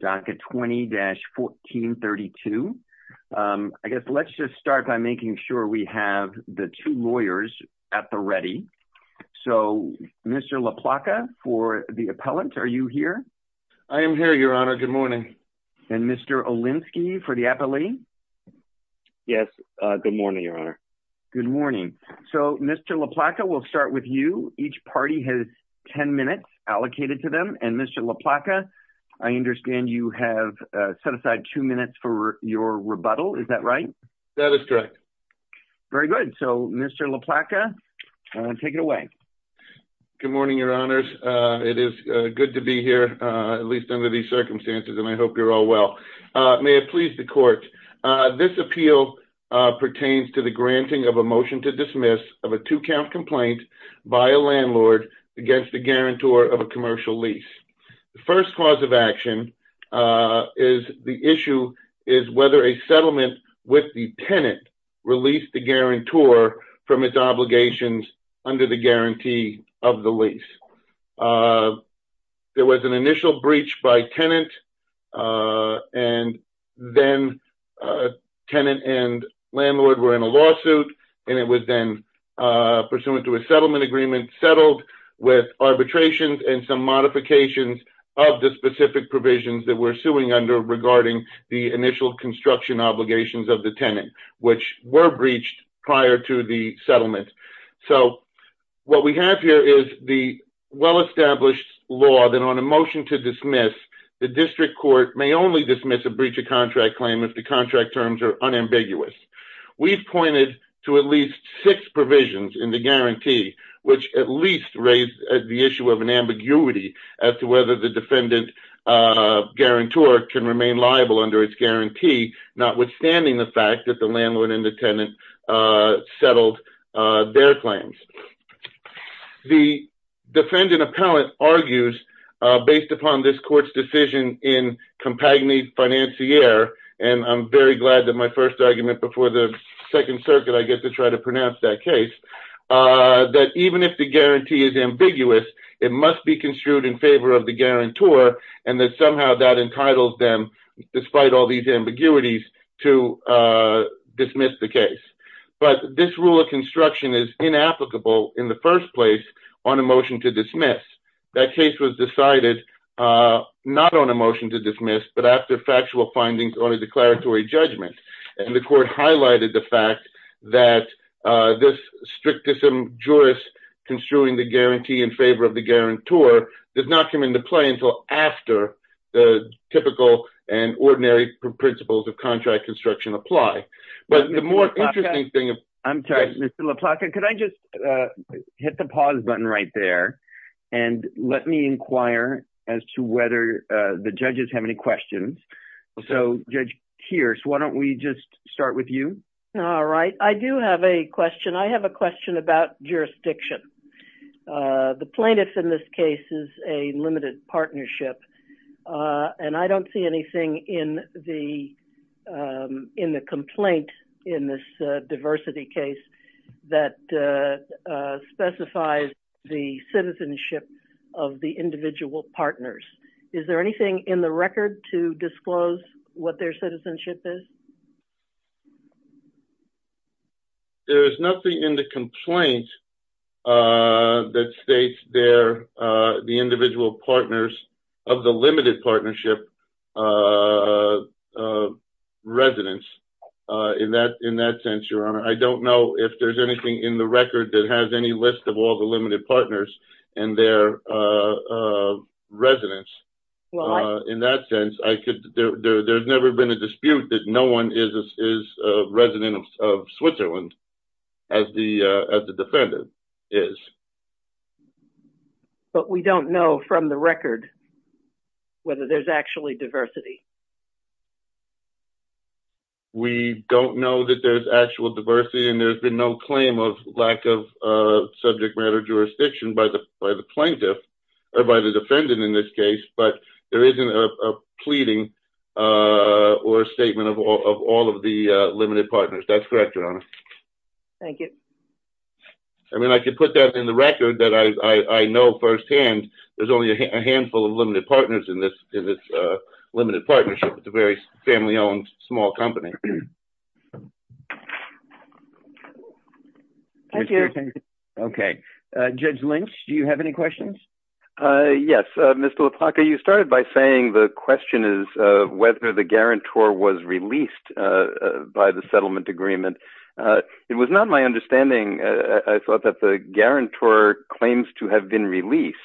Docket 20-1432. I guess let's just start by making sure we have the two lawyers at the ready. So, Mr. LaPlaca for the appellant, are you here? I am here, Your Honor. Good morning. And Mr. Olinsky for the appellee? Good morning. So, Mr. LaPlaca, we'll start with you. Each party has ten minutes allocated to them. And Mr. LaPlaca, I understand you have set aside two minutes for your rebuttal, is that right? That is correct. Very good. So, Mr. LaPlaca, take it away. Good morning, Your Honors. It is good to be here, at least under these circumstances, and I hope you're all well. May it please the Court, this appeal pertains to the granting of a motion to dismiss of a two-count complaint by a landlord against the guarantor of a commercial lease. The first cause of action is the issue is whether a settlement with the tenant released the guarantor from its obligations under the guarantee of the lease. There was an initial breach by tenant, and then tenant and landlord were in a lawsuit, and it was then pursuant to a settlement agreement, settled with arbitrations and some modifications of the specific provisions that we're suing under regarding the initial construction obligations of the tenant, which were breached prior to the settlement. So, what we have here is the well-established law that on a motion to dismiss, the district court may only dismiss a breach of contract claim if the contract terms are unambiguous. We've pointed to at least six provisions in the guarantee, which at least raise the issue of an ambiguity as to whether the defendant guarantor can remain liable under its guarantee, notwithstanding the fact that the landlord and the tenant settled their claims. The defendant appellant argues, based upon this court's decision in compagnie financiere, and I'm very glad that my first argument before the Second Circuit, I get to try to pronounce that case, that even if the guarantee is ambiguous, it must be construed in favor of the guarantor, and that somehow that entitles them, despite all these ambiguities, to dismiss the case. But this rule of construction is inapplicable in the first place on a motion to dismiss. That case was decided not on a motion to dismiss, but after factual findings on a declaratory judgment. And the court highlighted the fact that this strict jurist construing the guarantee in favor of the guarantor did not come into play until after the typical and ordinary principles of contract construction apply. I'm sorry, Ms. LaPlaca, could I just hit the pause button right there and let me inquire as to whether the judges have any questions. So, Judge Kearse, why don't we just start with you. All right. I do have a question. I have a question about jurisdiction. The plaintiff in this case is a limited partnership, and I don't see anything in the complaint in this diversity case that specifies the citizenship of the individual partners. Is there anything in the record to disclose what their citizenship is? There is nothing in the complaint that states the individual partners of the limited partnership residence. In that sense, Your Honor, I don't know if there's anything in the record that has any list of all the limited partners and their residence. In that sense, there's never been a dispute that no one is a resident of Switzerland as the defendant is. But we don't know from the record whether there's actually diversity. We don't know that there's actual diversity, and there's been no claim of lack of subject matter jurisdiction by the plaintiff or by the defendant in this case. But there isn't a pleading or a statement of all of the limited partners. That's correct, Your Honor. Thank you. I mean, I could put that in the record that I know firsthand. There's only a handful of limited partners in this limited partnership. It's a very family-owned small company. Thank you. Okay. Judge Lynch, do you have any questions? Yes. Mr. LaPlaca, you started by saying the question is whether the guarantor was released by the settlement agreement. It was not my understanding, I thought, that the guarantor claims to have been released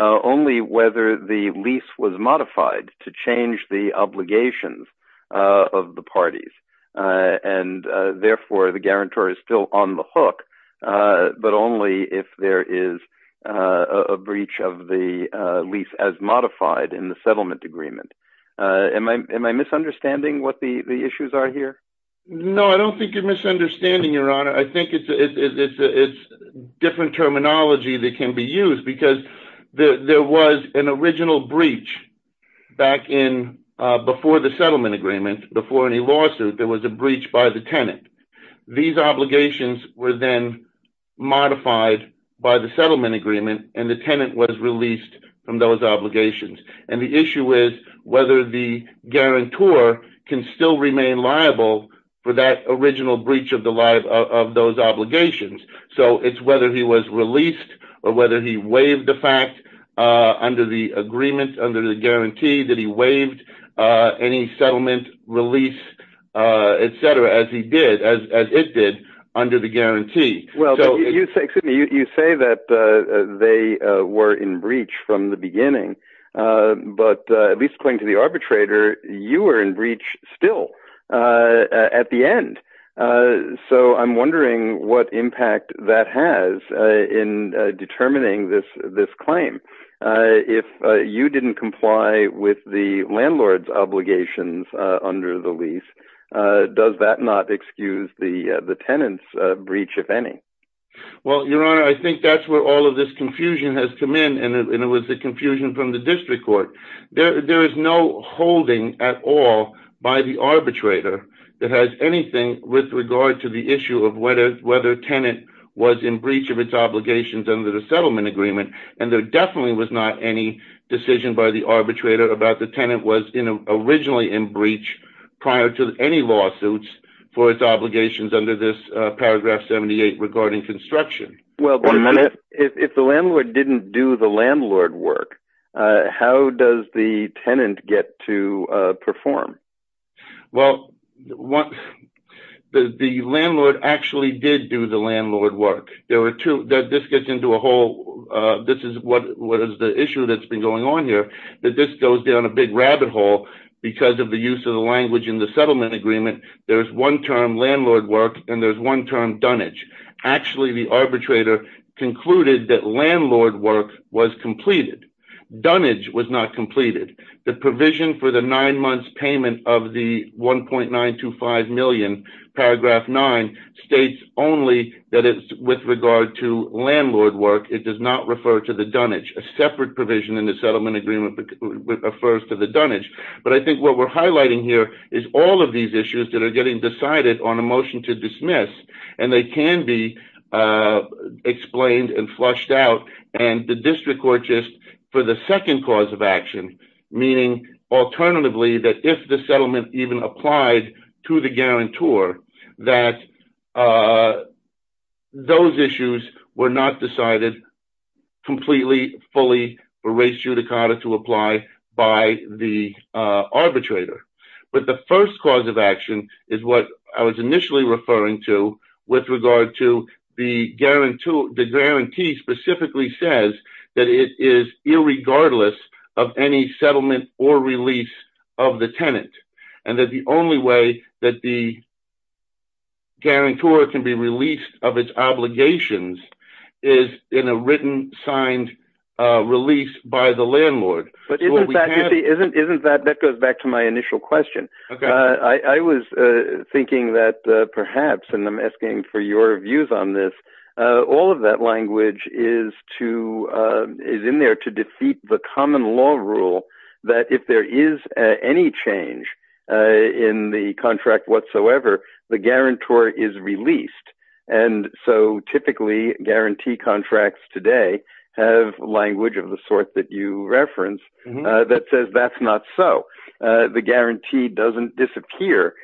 only whether the lease was modified to change the obligations of the parties. And therefore, the guarantor is still on the hook, but only if there is a breach of the lease as modified in the settlement agreement. Am I misunderstanding what the issues are here? No, I don't think you're misunderstanding, Your Honor. I think it's different terminology that can be used because there was an original breach back in before the settlement agreement, before any lawsuit, there was a breach by the tenant. These obligations were then modified by the settlement agreement, and the tenant was released from those obligations. And the issue is whether the guarantor can still remain liable for that original breach of those obligations. So, it's whether he was released or whether he waived the fact under the agreement, under the guarantee that he waived any settlement release, etc., as he did, as it did, under the guarantee. Well, you say that they were in breach from the beginning, but at least according to the arbitrator, you were in breach still at the end. So, I'm wondering what impact that has in determining this claim. If you didn't comply with the landlord's obligations under the lease, does that not excuse the tenant's breach, if any? Well, Your Honor, I think that's where all of this confusion has come in, and it was the confusion from the district court. There is no holding at all by the arbitrator that has anything with regard to the issue of whether a tenant was in breach of its obligations under the settlement agreement. And there definitely was not any decision by the arbitrator about the tenant was originally in breach prior to any lawsuits for its obligations under this paragraph 78 regarding construction. Well, if the landlord didn't do the landlord work, how does the tenant get to perform? Well, the landlord actually did do the landlord work. There were two – this gets into a whole – this is what is the issue that's been going on here, that this goes down a big rabbit hole because of the use of the language in the settlement agreement. There's one term, landlord work, and there's one term, dunnage. Actually, the arbitrator concluded that landlord work was completed. Dunnage was not completed. The provision for the nine months payment of the 1.925 million, paragraph 9, states only that it's with regard to landlord work. It does not refer to the dunnage. A separate provision in the settlement agreement refers to the dunnage. But I think what we're highlighting here is all of these issues that are getting decided on a motion to dismiss, and they can be explained and flushed out. And the district court just – for the second cause of action, meaning alternatively that if the settlement even applied to the guarantor, that those issues were not decided completely, fully for race judicata to apply by the arbitrator. But the first cause of action is what I was initially referring to with regard to the guarantee specifically says that it is irregardless of any settlement or release of the tenant, and that the only way that the guarantor can be released of its obligations is in a written, signed release by the landlord. But isn't that – that goes back to my initial question. I was thinking that perhaps, and I'm asking for your views on this, all of that language is in there to defeat the common law rule that if there is any change in the contract whatsoever, the guarantor is released, and so typically guarantee contracts today have language of the sort that you reference that says that's not so. The guarantee doesn't disappear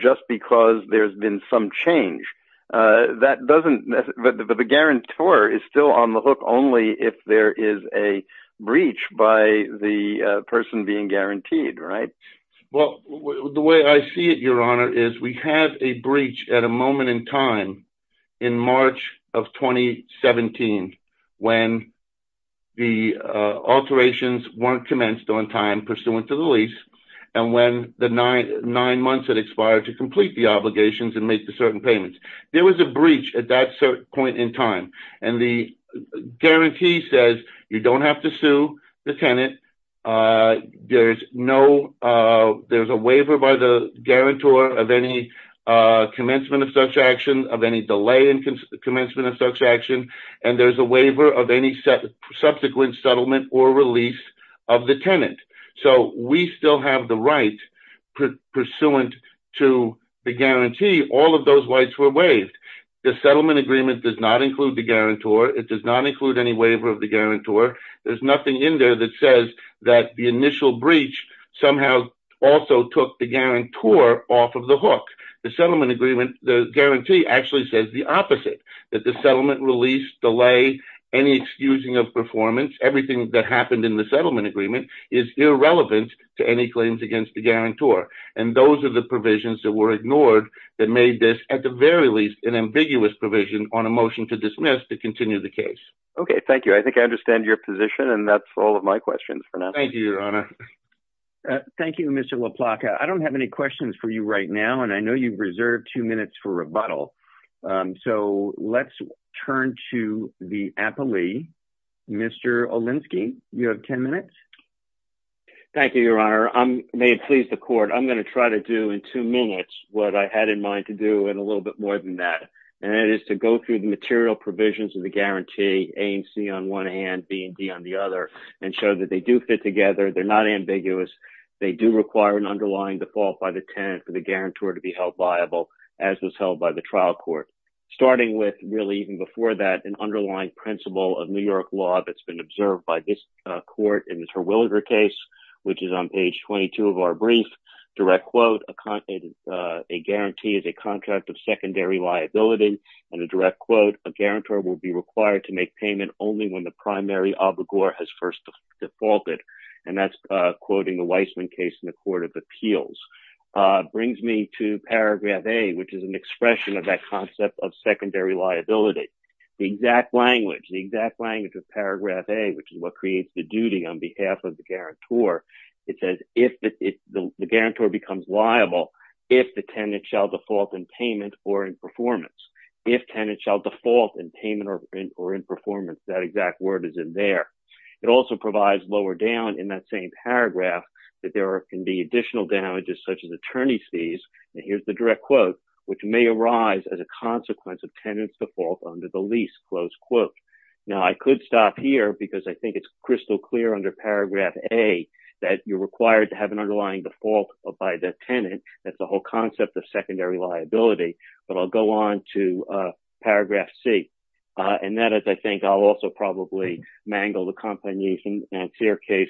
just because there's been some change. That doesn't – the guarantor is still on the hook only if there is a breach by the person being guaranteed, right? Well, the way I see it, Your Honor, is we have a breach at a moment in time in March of 2017 when the alterations weren't commenced on time pursuant to the lease, and when the nine months had expired to complete the obligations and make the certain payments. There was a breach at that certain point in time, and the guarantee says you don't have to sue the tenant. There's no – there's a waiver by the guarantor of any commencement of such action, of any delay in commencement of such action, and there's a waiver of any subsequent settlement or release of the tenant. So we still have the right pursuant to the guarantee. All of those rights were waived. The settlement agreement does not include the guarantor. It does not include any waiver of the guarantor. There's nothing in there that says that the initial breach somehow also took the guarantor off of the hook. The settlement agreement – the guarantee actually says the opposite, that the settlement release, delay, any excusing of performance, everything that happened in the settlement agreement is irrelevant to any claims against the guarantor, and those are the provisions that were ignored that made this, at the very least, an ambiguous provision on a motion to dismiss to continue the case. Okay, thank you. I think I understand your position, and that's all of my questions for now. Thank you, Your Honor. Thank you, Mr. LaPlaca. I don't have any questions for you right now, and I know you've reserved two minutes for rebuttal, so let's turn to the appellee, Mr. Olinsky. You have ten minutes. Thank you, Your Honor. May it please the Court, I'm going to try to do in two minutes what I had in mind to do in a little bit more than that, and that is to go through the material provisions of the guarantee, A and C on one hand, B and D on the other, and show that they do fit together. They're not ambiguous. They do require an underlying default by the tenant for the guarantor to be held liable, as was held by the trial court. Starting with, really, even before that, an underlying principle of New York law that's been observed by this court in the Terwilliger case, which is on page 22 of our brief, direct quote, a guarantee is a contract of secondary liability, and a direct quote, a guarantor will be required to make payment only when the primary obligor has first defaulted, and that's quoting the Weissman case in the Court of Appeals, brings me to paragraph A, which is an expression of that concept of secondary liability. The exact language, the exact language of paragraph A, which is what creates the duty on behalf of the guarantor, it says the guarantor becomes liable if the tenant shall default in payment or in performance. If tenant shall default in payment or in performance, that exact word is in there. It also provides lower down in that same paragraph that there can be additional damages such as attorney's fees, and here's the direct quote, which may arise as a consequence of tenant's default under the lease, close quote. Now, I could stop here because I think it's crystal clear under paragraph A that you're required to have an underlying default by the tenant. That's the whole concept of secondary liability, but I'll go on to paragraph C, and that is I think I'll also probably mangle the complainant's case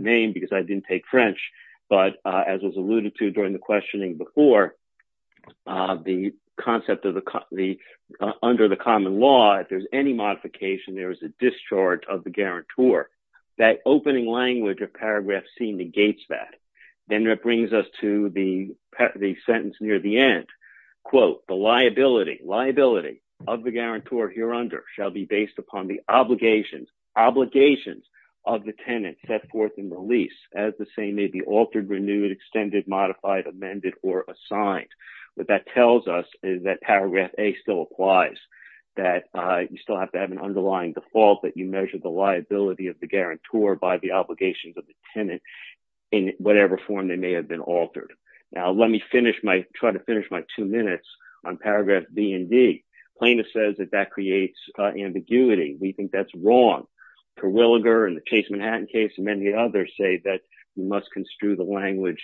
name because I didn't take French, but as was alluded to during the questioning before, the concept of the under the common law, if there's any modification, there is a discharge of the guarantor. That opening language of paragraph C negates that. Then that brings us to the sentence near the end. Quote, the liability of the guarantor here under shall be based upon the obligations of the tenant set forth in the lease, as the same may be altered, renewed, extended, modified, amended, or assigned. What that tells us is that paragraph A still applies, that you still have to have an underlying default, that you measure the liability of the guarantor by the obligations of the tenant in whatever form they may have been altered. Now, let me try to finish my two minutes on paragraph B and D. Plaintiff says that that creates ambiguity. We think that's wrong. Terwilliger and the Case Manhattan case and many others say that you must construe the language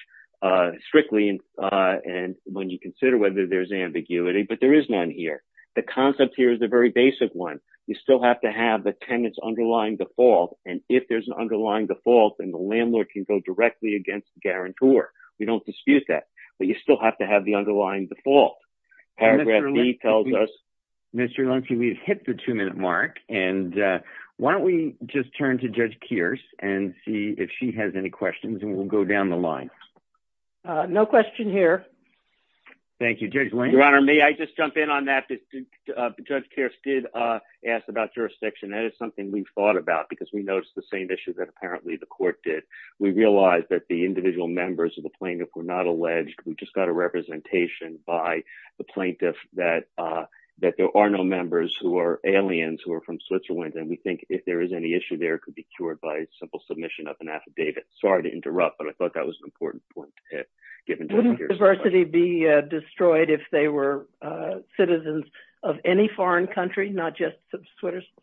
strictly when you consider whether there's ambiguity, but there is none here. The concept here is a very basic one. You still have to have the tenant's underlying default, and if there's an underlying default, then the landlord can go directly against the guarantor. We don't dispute that, but you still have to have the underlying default. Paragraph B tells us — Mr. Luncey, we've hit the two-minute mark, and why don't we just turn to Judge Kearse and see if she has any questions, and we'll go down the line. No question here. Thank you. Your Honor, may I just jump in on that? Judge Kearse did ask about jurisdiction. That is something we've thought about because we noticed the same issue that apparently the court did. We realized that the individual members of the plaintiff were not alleged. We just got a representation by the plaintiff that there are no members who are aliens who are from Switzerland, and we think if there is any issue there, it could be cured by a simple submission of an affidavit. Sorry to interrupt, but I thought that was an important point. Wouldn't diversity be destroyed if they were citizens of any foreign country, not just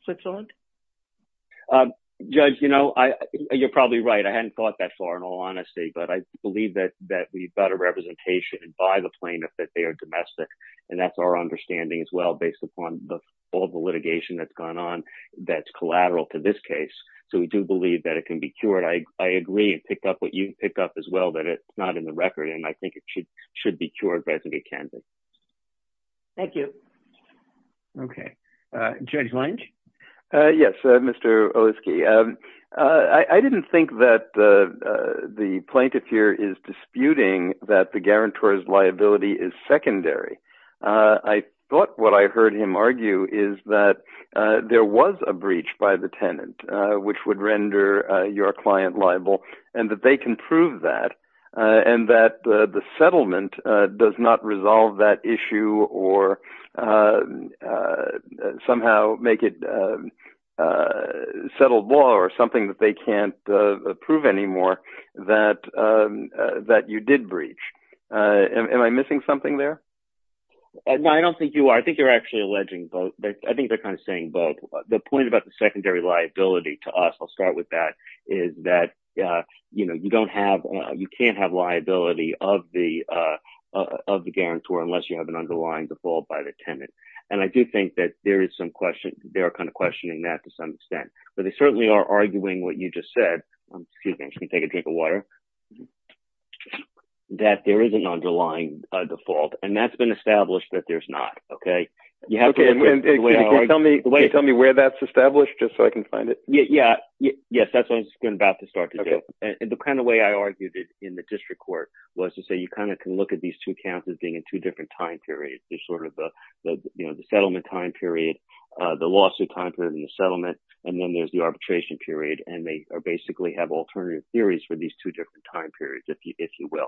Switzerland? Judge, you know, you're probably right. I hadn't thought that far in all honesty, but I believe that we've got a representation by the plaintiff that they are domestic, and that's our understanding as well based upon all the litigation that's gone on that's collateral to this case. So we do believe that it can be cured. I agree and picked up what you picked up as well, that it's not in the record, and I think it should be cured by the Kansas. Thank you. Okay. Judge Lynch? Yes, Mr. Oleski. I didn't think that the plaintiff here is disputing that the guarantor's liability is secondary. I thought what I heard him argue is that there was a breach by the tenant, which would render your client liable, and that they can prove that, and that the settlement does not resolve that issue or somehow make it settled law or something that they can't approve anymore that you did breach. Am I missing something there? No, I don't think you are. I think you're actually alleging both. I think they're kind of saying both. The point about the secondary liability to us, I'll start with that, is that, you know, you don't have – you can't have liability of the guarantor unless you have an underlying default by the tenant, and I do think that there is some question – they are kind of questioning that to some extent. But they certainly are arguing what you just said – excuse me, I'm just going to take a drink of water – that there is an underlying default, and that's been established that there's not, okay? Okay. Can you tell me where that's established just so I can find it? Yeah. Yes, that's what I was about to start to do. Okay. And the kind of way I argued it in the district court was to say you kind of can look at these two counts as being in two different time periods. There's sort of the settlement time period, the lawsuit time period, and the settlement, and then there's the arbitration period, and they basically have alternative theories for these two different time periods, if you will.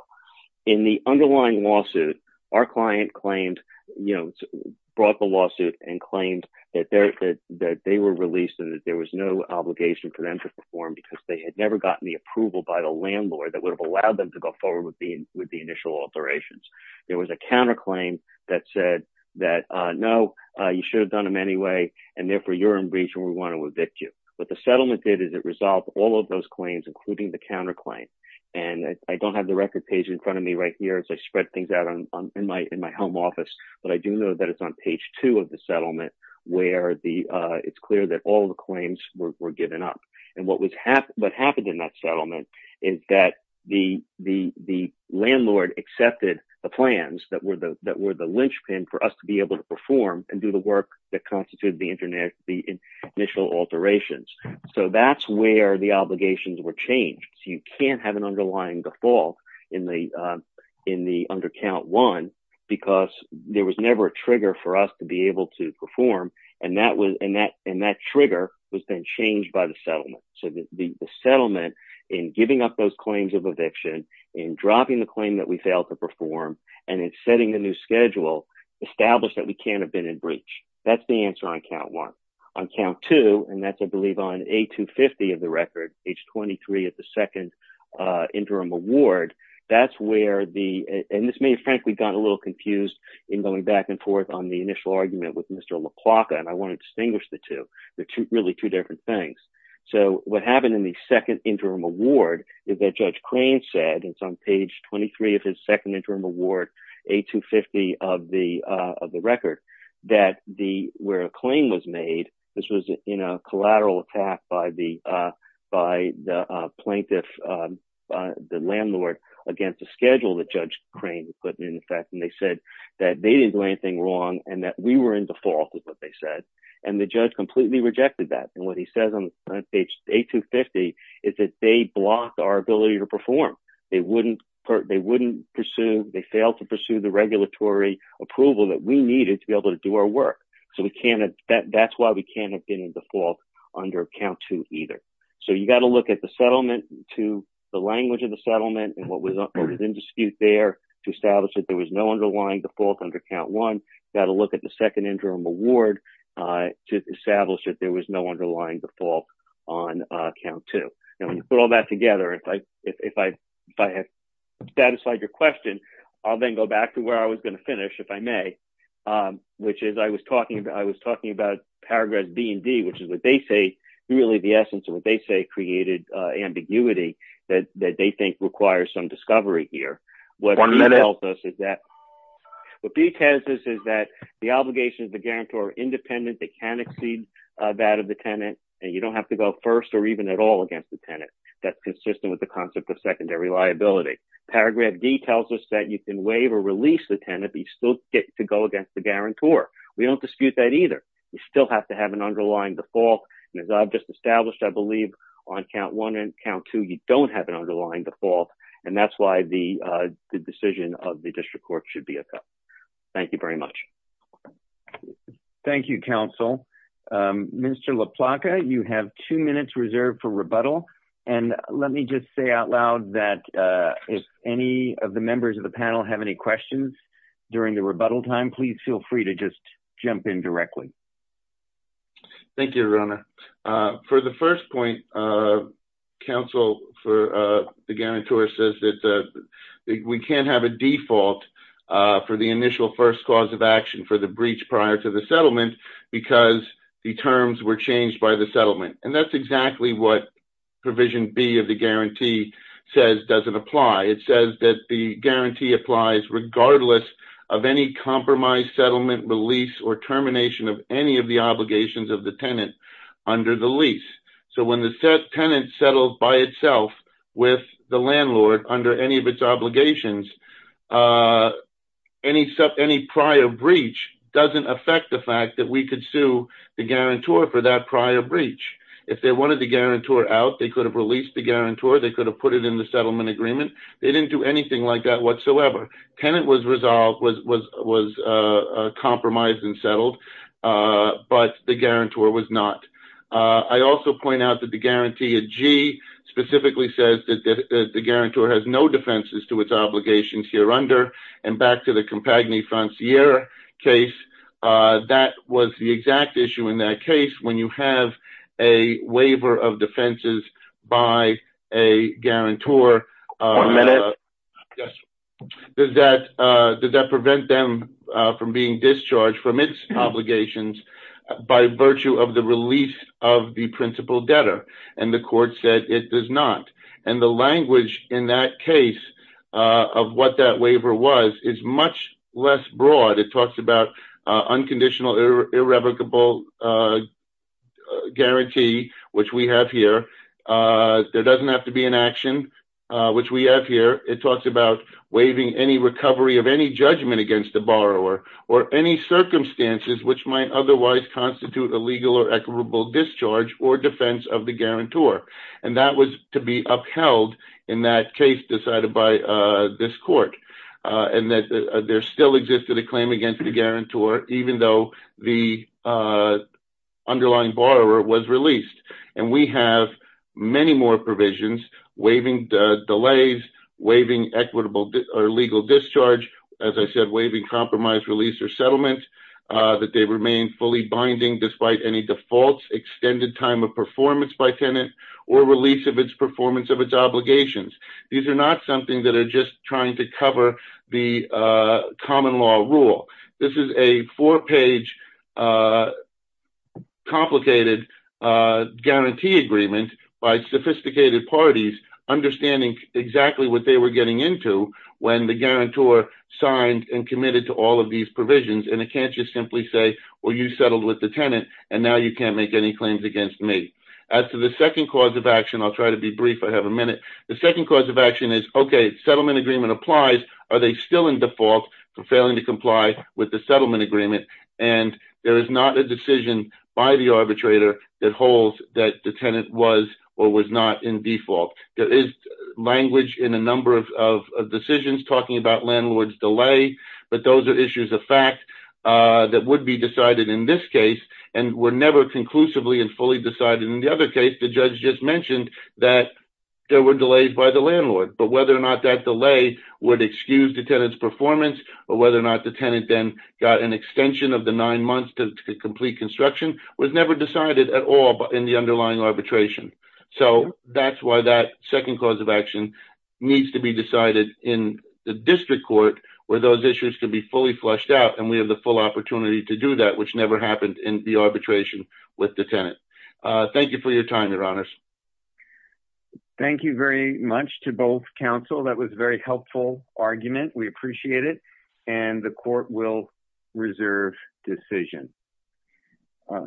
In the underlying lawsuit, our client claimed – brought the lawsuit and claimed that they were released and that there was no obligation for them to perform because they had never gotten the approval by the landlord that would have allowed them to go forward with the initial alterations. There was a counterclaim that said that, no, you should have done them anyway, and therefore you're in breach and we want to evict you. What the settlement did is it resolved all of those claims, including the counterclaim, and I don't have the record page in front of me right here as I spread things out in my home office, but I do know that it's on page two of the settlement where it's clear that all the claims were given up. What happened in that settlement is that the landlord accepted the plans that were the linchpin for us to be able to perform and do the work that constituted the initial alterations. That's where the obligations were changed. You can't have an underlying default in the under count one because there was never a trigger for us to be able to perform, and that trigger was then changed by the settlement. The settlement in giving up those claims of eviction, in dropping the claim that we failed to perform, and in setting a new schedule established that we can't have been in breach. That's the answer on count one. On count two, and that's, I believe, on A250 of the record, age 23 at the second interim award, and this may have, frankly, gotten a little confused in going back and forth on the initial argument with Mr. LaPlaca, and I want to distinguish the two. They're really two different things. What happened in the second interim award is that Judge Klain said, and it's on page 23 of his second interim award, A250 of the record, that where a claim was made, this was in a collateral attack by the plaintiff, the landlord, against the schedule that Judge Klain had put in effect, and they said that they didn't do anything wrong and that we were in default with what they said, and the judge completely rejected that, and what he says on page A250 is that they blocked our ability to perform. They wouldn't pursue. They failed to pursue the regulatory approval that we needed to be able to do our work, so that's why we can't have been in default under count two either, so you've got to look at the language of the settlement and what was in dispute there to establish that there was no underlying default under count one. You've got to look at the second interim award to establish that there was no underlying default on count two, and when you put all that together, if I have satisfied your question, I'll then go back to where I was going to finish, if I may, which is I was talking about paragraphs B and D, which is what they say really the essence of what they say created ambiguity that they think requires some discovery here. One minute. What B tells us is that the obligations of the guarantor are independent. They can exceed that of the tenant, and you don't have to go first or even at all against the tenant. That's consistent with the concept of secondary liability. Paragraph D tells us that you can waive or release the tenant, but you still get to go against the guarantor. We don't dispute that either. You still have to have an underlying default, and as I've just established, I believe on count one and count two you don't have an underlying default, and that's why the decision of the district court should be upheld. Thank you very much. Thank you, counsel. Mr. LaPlaca, you have two minutes reserved for rebuttal, and let me just say out loud that if any of the members of the panel have any questions during the rebuttal time, please feel free to just jump in directly. Thank you, Rona. For the first point, counsel, the guarantor says that we can't have a default for the initial first cause of action for the breach prior to the settlement because the terms were changed by the settlement, and that's exactly what Provision B of the guarantee says doesn't apply. It says that the guarantee applies regardless of any compromised settlement, release, or termination of any of the obligations of the tenant under the lease. So when the tenant settles by itself with the landlord under any of its obligations, any prior breach doesn't affect the fact that we could sue the guarantor for that prior breach. If they wanted the guarantor out, they could have released the guarantor. They could have put it in the settlement agreement. They didn't do anything like that whatsoever. The tenant was resolved, was compromised and settled, but the guarantor was not. I also point out that the guarantee of G specifically says that the guarantor has no defenses to its obligations here under, and back to the Compagnie Franciere case, that was the exact issue in that case. When you have a waiver of defenses by a guarantor. One minute. Does that prevent them from being discharged from its obligations by virtue of the release of the principal debtor? And the court said it does not. And the language in that case of what that waiver was is much less broad. It talks about unconditional irrevocable guarantee, which we have here. There doesn't have to be an action, which we have here. It talks about waiving any recovery of any judgment against the borrower, or any circumstances which might otherwise constitute a legal or equitable discharge or defense of the guarantor. And that was to be upheld in that case decided by this court. And there still existed a claim against the guarantor, even though the underlying borrower was released. And we have many more provisions, waiving delays, waiving equitable or legal discharge, as I said, waiving compromise release or settlement, that they remain fully binding despite any defaults, extended time of performance by tenant, or release of its performance of its obligations. These are not something that are just trying to cover the common law rule. This is a four-page complicated guarantee agreement by sophisticated parties, understanding exactly what they were getting into when the guarantor signed and committed to all of these provisions. And it can't just simply say, well, you settled with the tenant, and now you can't make any claims against me. As to the second cause of action, I'll try to be brief. I have a minute. The second cause of action is, okay, settlement agreement applies. Are they still in default for failing to comply with the settlement agreement? And there is not a decision by the arbitrator that holds that the tenant was or was not in default. There is language in a number of decisions talking about landlord's delay, but those are issues of fact that would be decided in this case and were never conclusively and fully decided in the other case. But whether or not that delay would excuse the tenant's performance or whether or not the tenant then got an extension of the nine months to complete construction was never decided at all in the underlying arbitration. So that's why that second cause of action needs to be decided in the district court where those issues can be fully flushed out and we have the full opportunity to do that, which never happened in the arbitration with the tenant. Thank you for your time, Your Honors. Thank you very much to both counsel. That was very helpful argument. We appreciate it. And the court will reserve decision.